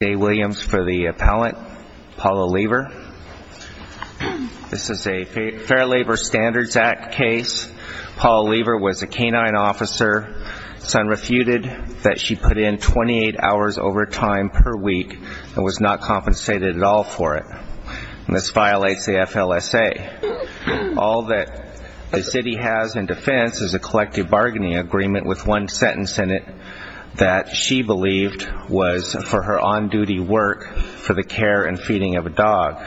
Day Williams for the appellant, Paula Leever. This is a Fair Labor Standards Act case. Paula Leever was a canine officer. Son refuted that she put in 28 hours overtime per week and was not compensated at all for it. This violates the FLSA. All that the city has in defense is a collective bargaining agreement with one sentence in it that she believed was for her on-duty work for the care and feeding of a dog.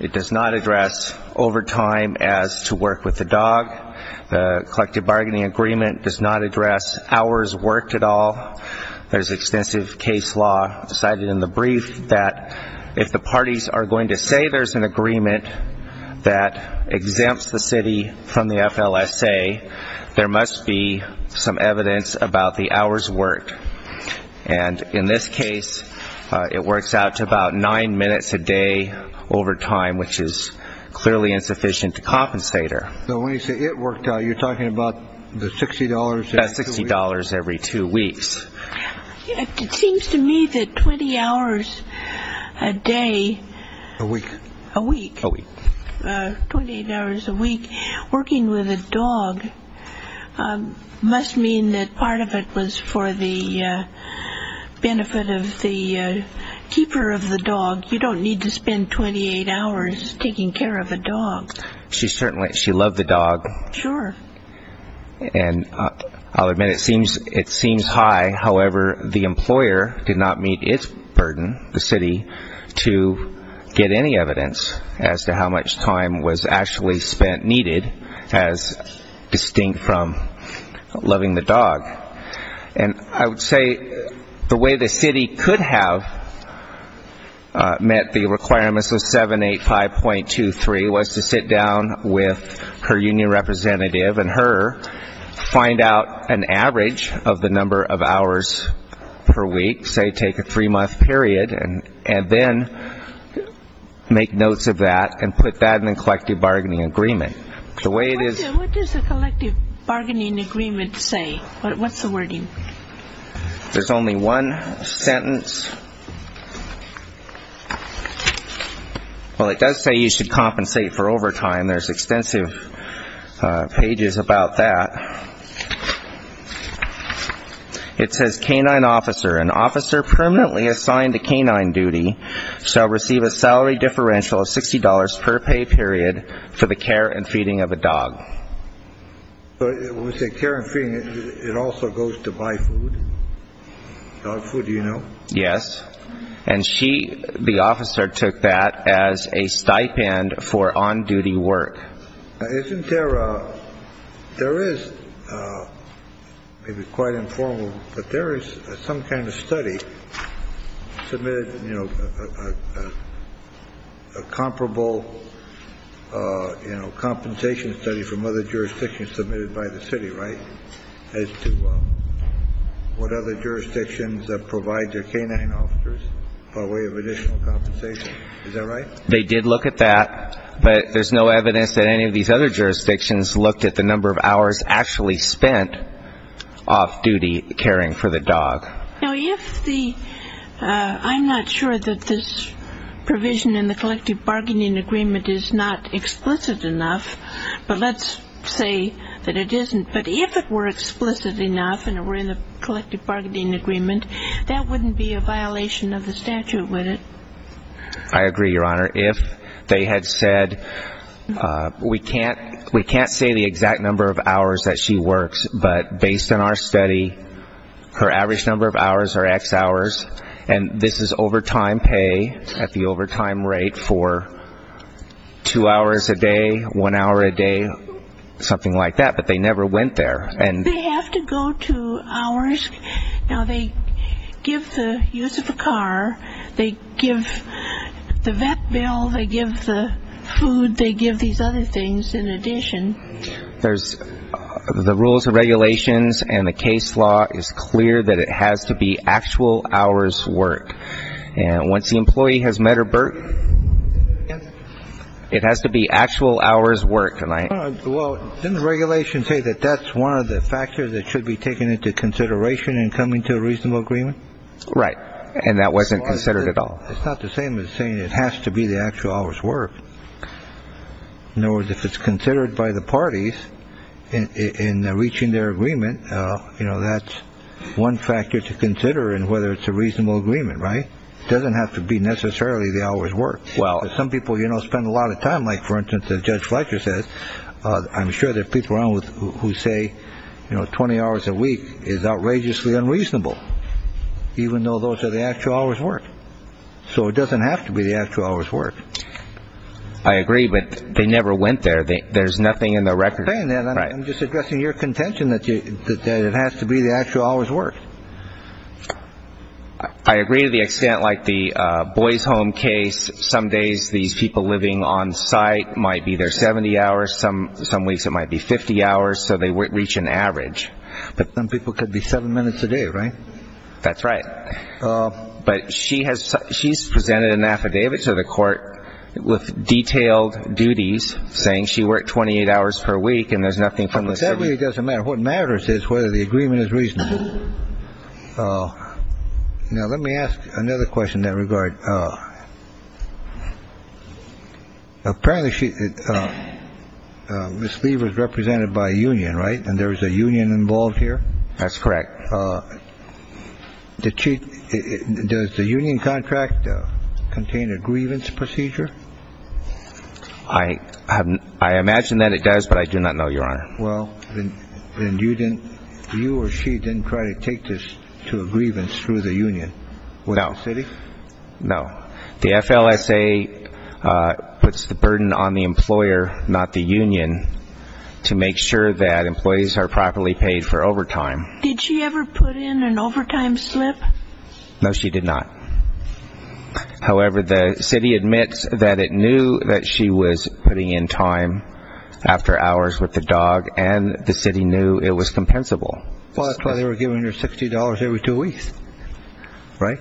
It does not address overtime as to work with the dog. The collective bargaining agreement does not address hours worked at all. There's extensive case law decided in the brief that if the parties are going to say there's an agreement that exempts the city from the FLSA, there must be some evidence about the hours worked. And in this case, it works out to about nine minutes a day overtime, which is clearly insufficient to compensate her. So when you say it worked out, you're talking about the $60 every two weeks? About $60 every two weeks. It seems to me that 20 hours a day A week. A week. A week. 28 hours a week. Working with a dog must mean that part of it was for the benefit of the keeper of the dog. You don't need to spend 28 hours taking care of a dog. She loved the dog. Sure. And I'll admit it seems high. However, the employer did not meet its burden, the city, to get any evidence as to how much time was actually spent needed as distinct from loving the dog. And I would say the way the city could have met the requirements of 785.23 was to sit down with her union representative and her, find out an average of the number of hours per week, say take a three-month period, and then make notes of that and put that in a collective bargaining agreement. The way it is What does a collective bargaining agreement say? What's the wording? There's only one sentence. Well, it does say you should compensate for overtime. There's a sentence. It says canine officer, an officer permanently assigned to canine duty, shall receive a salary differential of $60 per pay period for the care and feeding of a dog. When we say care and feeding, it also goes to buy food? Dog food, do you know? Yes. And she, the officer, took that as a stipend for on-duty work. Isn't there, there is, maybe quite informal, but there is some kind of study submitted, you know, a comparable, you know, compensation study from other jurisdictions submitted by the city, right, as to what other jurisdictions provide their canine officers by way of additional compensation. Is that right? They did look at that, but there's no evidence that any of these other jurisdictions looked at the number of hours actually spent off-duty caring for the dog. Now, if the, I'm not sure that this provision in the collective bargaining agreement is not explicit enough, but let's say that it isn't. But if it were explicit enough and it were in the collective bargaining agreement, that wouldn't be a violation of the statute, would it? I agree, Your Honor. If they had said, we can't, we can't say the exact number of hours that she works, but based on our study, her average number of hours are X hours, and this is overtime pay at the overtime rate for two hours a day, one hour a day, something like that, but they never went there. They have to go to hours, now they give the use of a car, they give the use of a car, they give the vet bill, they give the food, they give these other things in addition. There's, the rules and regulations and the case law is clear that it has to be actual hours' work. And once the employee has met her BERT, it has to be actual hours' work. Well, didn't the regulation say that that's one of the factors that should be taken into consideration in coming to a reasonable agreement? Right. And that wasn't considered at all. It's not the same as saying it has to be the actual hours' work. In other words, if it's considered by the parties in reaching their agreement, you know, that's one factor to consider in whether it's a reasonable agreement, right? It doesn't have to be necessarily the hours' work. Well. Some people, you know, spend a lot of time, like for instance, as Judge Fletcher says, I'm sure there's people around who say, you know, 20 hours a week is outrageously unreasonable. Even though those are the actual hours' work. So it doesn't have to be the actual hours' work. I agree, but they never went there. There's nothing in the record. I'm just addressing your contention that it has to be the actual hours' work. I agree to the extent, like the boys' home case, some days these people living on site might be their 70 hours, some weeks it might be 50 hours, so they reach an average. But some people could be seven minutes a day, right? That's right. But she's presented an affidavit to the court with detailed duties, saying she worked 28 hours per week and there's nothing from the city. It doesn't matter. What matters is whether the agreement is reasonable. Now, let me ask another question in that regard. Apparently, Ms. Lee was represented by a union, right? And there's a union involved here? That's correct. Does the union contract contain a grievance procedure? I imagine that it does, but I do not know, Your Honor. Well, then you or she didn't try to take this to a grievance through the union with the city? No. The FLSA puts the burden on the employer, not the union, to make sure that employees are properly paid for overtime. Did she ever put in an overtime slip? No, she did not. However, the city admits that it knew that she was putting in time after hours with the dog and the city knew it was compensable. Well, that's why they were giving her $60 every two weeks, right?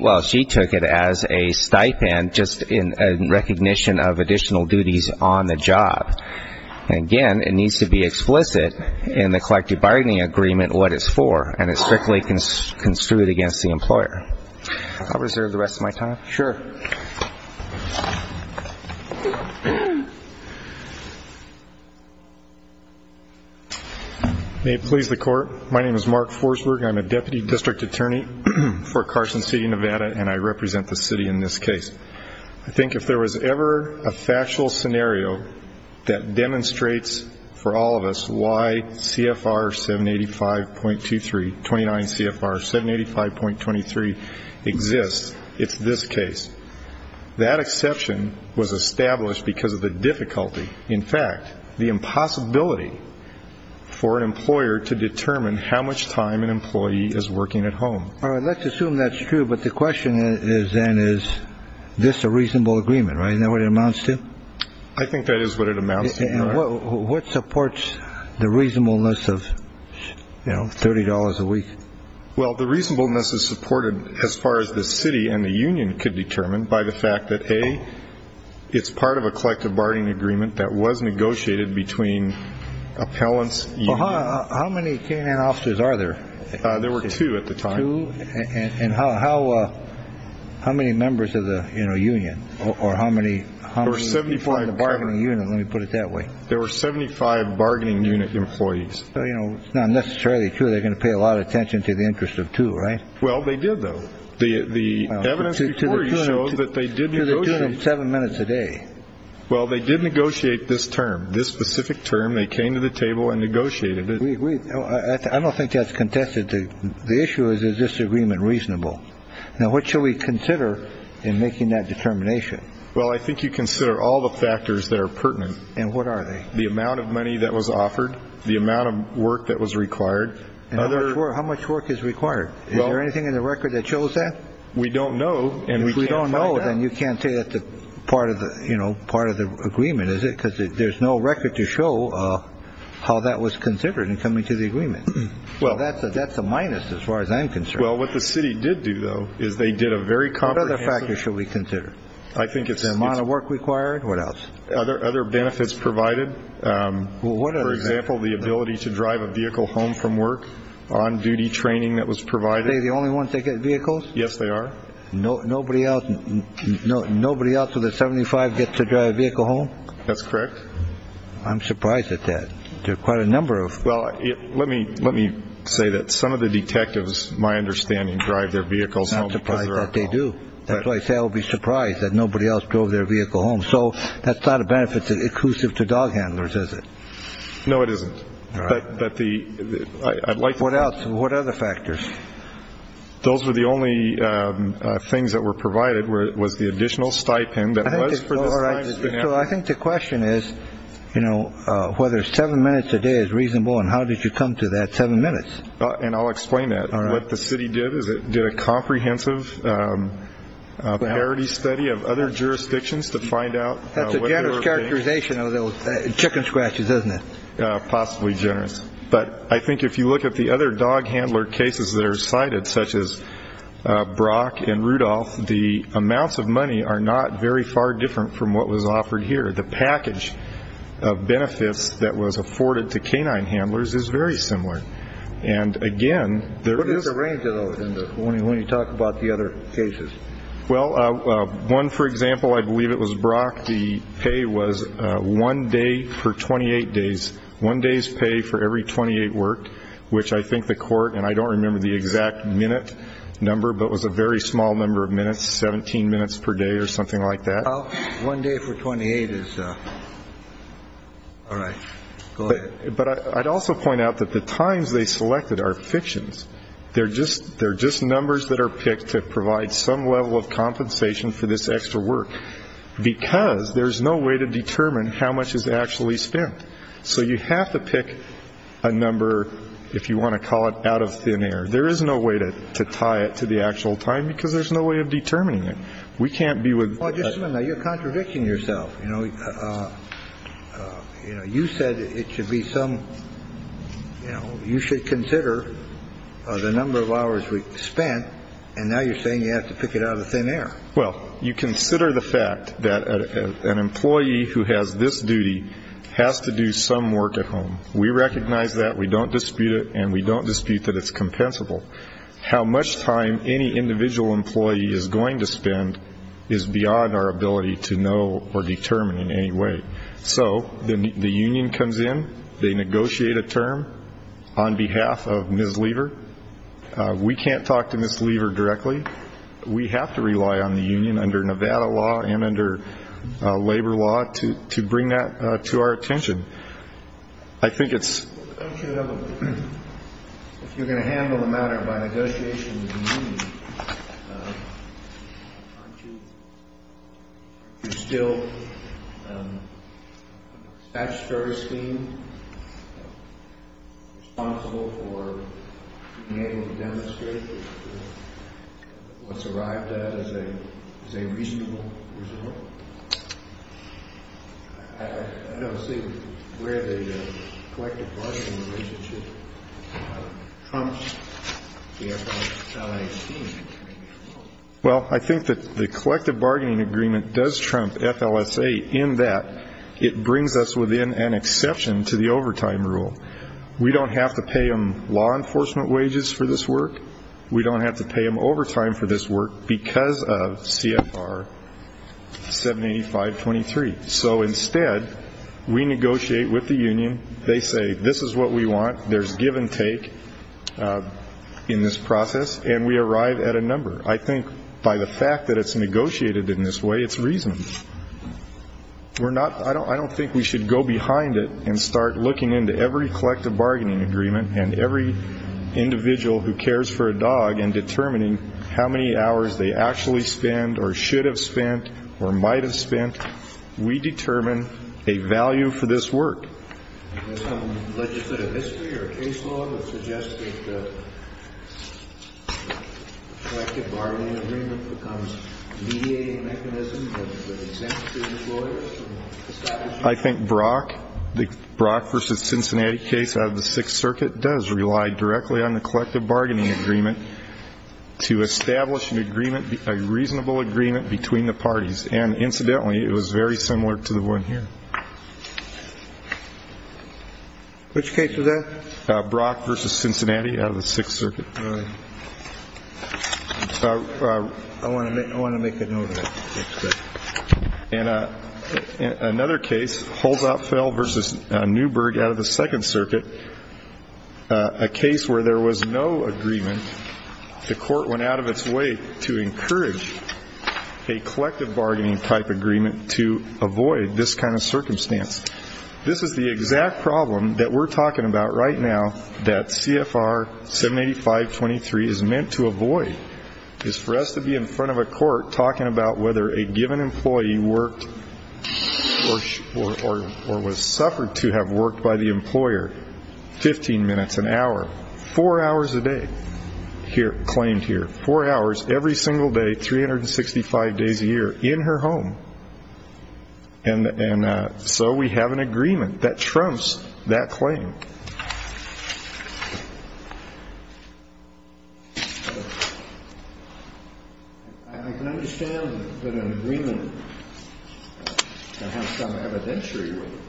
Well, she took it as a stipend, just in recognition of additional duties on the job. Again, it needs to be explicit in the collective bargaining agreement what it's for, and it's strictly construed against the employer. I'll reserve the rest of my time. Sure. May it please the Court. My name is Mark Forsberg. I'm a Deputy District Attorney for Carson City, Nevada, and I represent the city in this case. I think if there was ever a factual scenario that demonstrates for all of us why CFR 785.23, 29 CFR 785.23 exists, it's this case. That exception was established because of the difficulty, in fact, the impossibility for an employer to determine how much time an employee is working at home. Let's assume that's true, but the question then is, is this a reasonable agreement? Isn't that what it amounts to? I think that is what it amounts to. What supports the reasonableness of $30 a week? Well, the reasonableness is supported as far as the city and the union could determine by the fact that, A, it's part of a collective bargaining agreement that was negotiated between appellants. How many K&N officers are there? There were two at the time. And how many members of the union, or how many people in the bargaining unit? Let me put it that way. There were 75 bargaining unit employees. It's not necessarily true they're going to pay a lot of attention to the interest of two, right? Well, they did, though. The evidence before you shows that they did negotiate. Seven minutes a day. Well, they did negotiate this term, this specific term. They came to the table and negotiated it. We agree. I don't think that's contested. The issue is, is this agreement reasonable? Now, what should we consider in making that determination? Well, I think you consider all the factors that are pertinent. And what are they? The amount of money that was offered, the amount of work that was required. And how much work is required? Is there anything in the record that shows that? We don't know, and we can't find out. If we don't know, then you can't say that's part of the agreement, is it? Because there's no record to show how that was considered in coming to the agreement. That's a minus as far as I'm concerned. Well, what the city did do, though, is they did a very comprehensive. What other factors should we consider? The amount of work required? What else? Other benefits provided. For example, the ability to drive a vehicle home from work. On-duty training that was provided. Are they the only ones that get vehicles? Yes, they are. Nobody else of the 75 gets to drive a vehicle home? That's correct. I'm surprised at that. There are quite a number of... Well, let me say that some of the detectives, my understanding, drive their vehicles home. I'm surprised that they do. That's why I say I would be surprised that nobody else drove their vehicle home. So that's not a benefit that's exclusive to dog handlers, is it? No, it isn't. What other factors? Those were the only things that were provided was the additional stipend that was for this time. But the question is whether seven minutes a day is reasonable and how did you come to that seven minutes? And I'll explain that. What the city did is it did a comprehensive parity study of other jurisdictions to find out... That's a generous characterization of those chicken scratches, isn't it? Possibly generous. But I think if you look at the other dog handler cases that are cited, such as Brock and Rudolph, the amounts of money are not very far different from what was offered here. The package of benefits that was afforded to canine handlers is very similar. And again, there is... What is the range, though, when you talk about the other cases? Well, one, for example, I believe it was Brock, the pay was one day for 28 days. One day's pay for every 28 worked, which I think the court, and I don't remember the exact minute number, but it was a very small number of minutes, 17 minutes per day or something like that. One day for 28 is... All right. Go ahead. But I'd also point out that the times they selected are fictions. They're just numbers that are picked to provide some level of compensation for this extra work because there's no way to determine how much is actually spent. So you have to pick a number, if you want to call it, out of thin air. There is no way to tie it to the actual time because there's no way of determining it. We can't be with... Now, you're contradicting yourself. You know, you said it should be some... You know, you should consider the number of hours we spent, and now you're saying you have to pick it out of thin air. Well, you consider the fact that an employee who has this duty has to do some work at home. We recognize that. We don't dispute it. And we don't dispute that it's compensable. How much time any individual employee is going to spend is beyond our ability to know or determine in any way. So the union comes in. They negotiate a term on behalf of Ms. Lever. We can't talk to Ms. Lever directly. We have to rely on the union under Nevada law and under labor law to bring that to our attention. I think it's... Well, don't you have a... If you're going to handle the matter by negotiation with the union, aren't you... You're still... Statutory scheme? Responsible for being able to demonstrate what's arrived at as a reasonable result? I don't see where the collective bargaining relationship trumps the FLSA scheme. Well, I think that the collective bargaining agreement does trump FLSA in that it brings us within an exception to the overtime rule. We don't have to pay them law enforcement wages for this work. We don't have to pay them overtime for this work because of CFR. 785.23. So instead, we negotiate with the union. They say, this is what we want. There's give and take in this process. And we arrive at a number. I think by the fact that it's negotiated in this way, it's reasonable. We're not... I don't think we should go behind it and start looking into every collective bargaining agreement and every individual who cares for a dog and determining how many hours they actually spend or should have spent or might have spent. We determine a value for this work. Does some legislative history or case law that suggests that the collective bargaining agreement becomes a mediating mechanism for the dissent of business lawyers? I think Brock, the Brock v. Cincinnati case out of the Sixth Circuit does rely directly on the collective bargaining agreement to establish a reasonable agreement between the parties. And incidentally, it was very similar to the one here. Which case was that? Brock v. Cincinnati out of the Sixth Circuit. I want to make a note of that. And another case, Holzapfel v. Newberg out of the Second Circuit, a case where there was no agreement and the court went out of its way to encourage a collective bargaining type agreement to avoid this kind of circumstance. This is the exact problem that we're talking about right now that CFR 785.23 is meant to avoid. It's for us to be in front of a court talking about whether a given employee worked or was suffered to have worked by the employer 15 minutes, an hour, four hours a day. Here, claimed here, four hours every single day, 365 days a year in her home. And so we have an agreement that trumps that claim. I can understand that an agreement to have some evidentiary agreement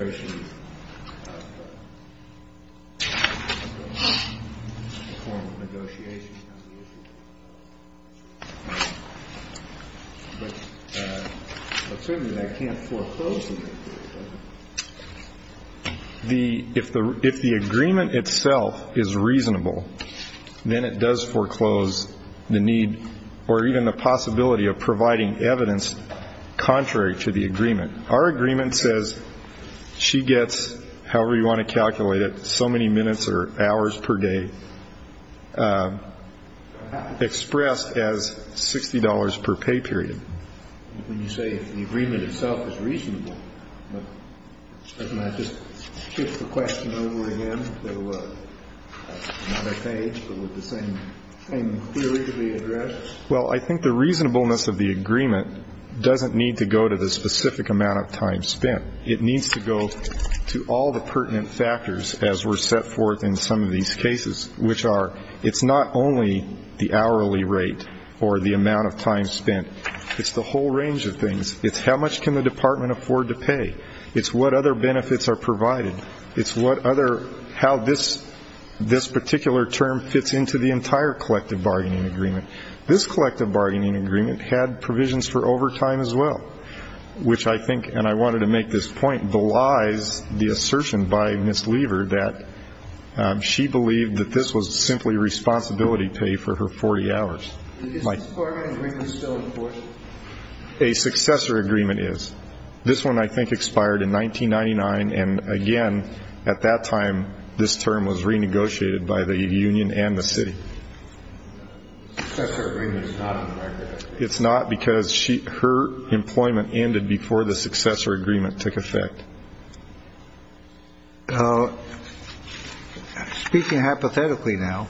especially in the form of negotiations on the issue. But certainly that can't foreclose an agreement. If the agreement itself is reasonable, then it does foreclose the need of providing evidence contrary to the agreement. Our agreement says she gets, however you want to calculate it, so many minutes or hours per day expressed as $60 per pay period. When you say the agreement itself is reasonable, doesn't that just shift the question over again to another page with the same theory to be addressed? Well, I think the reasonableness of the agreement doesn't need to go to the specific amount of time spent. It needs to go to all the pertinent factors as were set forth in some of these cases, which are it's not only the hourly rate or the amount of time spent. It's the whole range of things. It's how much can the department afford to pay. It's what other benefits are provided. It's how this particular term fits into the entire collective bargaining agreement. This collective bargaining agreement had provisions for overtime as well, which I think, and I wanted to make this point, belies the assertion by Ms. Lever that she believed that this was simply responsibility pay for her 40 hours. Is this department agreement still in force? A successor agreement is. This one, I think, expired in 1999, and again at that time, this term was renegotiated by the union and the city. Successor agreement is not in the record. It's not because her employment ended before the successor agreement took effect. Speaking hypothetically now,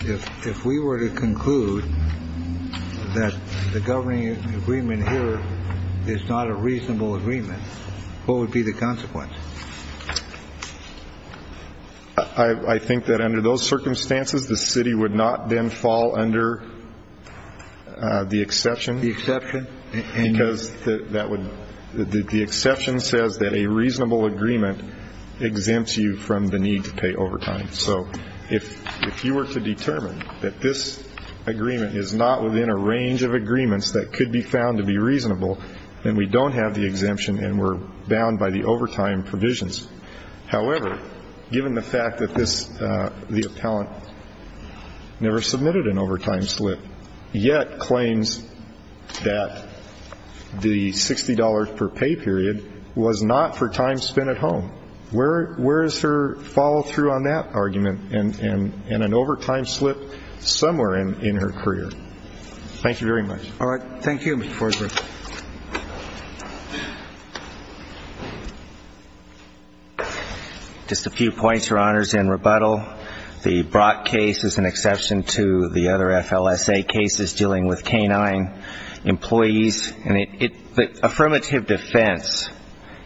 if we were to conclude that the governing agreement here is not a reasonable agreement, what would be the consequence? I think that under those circumstances, the city would not then fall under the exception. The exception? Because the exception says that a reasonable agreement exempts you from the need to pay overtime. So if you were to determine that this agreement is not within a range of agreements that could be found to be reasonable, then we don't have the exemption and we're bound by the overtime provisions. However, given the fact that the appellant never submitted an overtime slip, yet claims that the $60 per pay period was not for time spent at home, where is her follow-through on that argument and an overtime slip somewhere in her career? Thank you very much. All right. Thank you, Mr. Forsberg. Just a few points, Your Honors, in rebuttal. The Brock case is an exception to the other FLSA cases dealing with K-9 employees. And the affirmative defense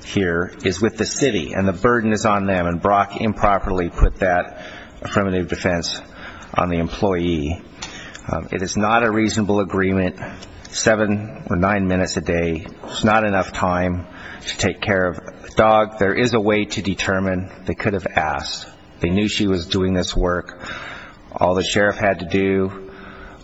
here is with the city and the burden is on them. And Brock improperly put It is not a reasonable agreement $7 or $9 per pay period for an employee who works 10 minutes a day. It's not enough time to take care of a dog. There is a way to determine they could have asked. They knew she was doing this work. All the sheriff had to do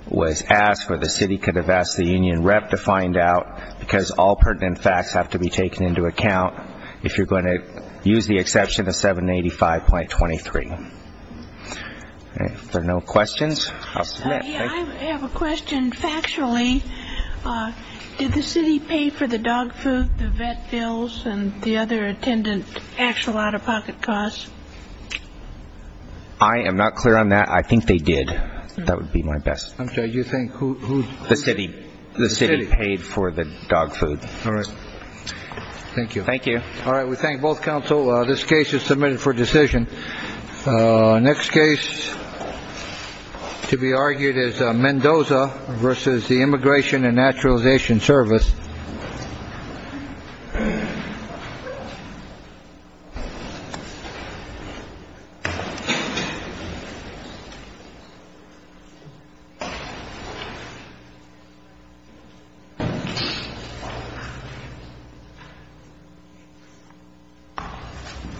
was ask, or the city could have asked the union rep to find out because all pertinent facts have to be taken into account if you're going to use the exception of 785.23. All right. Did the city pay for the dog food, the vet bills, and the other attendant actual out-of-pocket costs? I am not clear on that. I think they did. That would be my best. I'm sorry, you think who? The city. The city paid for the dog food. All right. Thank you. Thank you. All right. We thank both counsel. This case is submitted for decision. Next case to be argued is Mendoza versus the Immigration and Naturalization Service.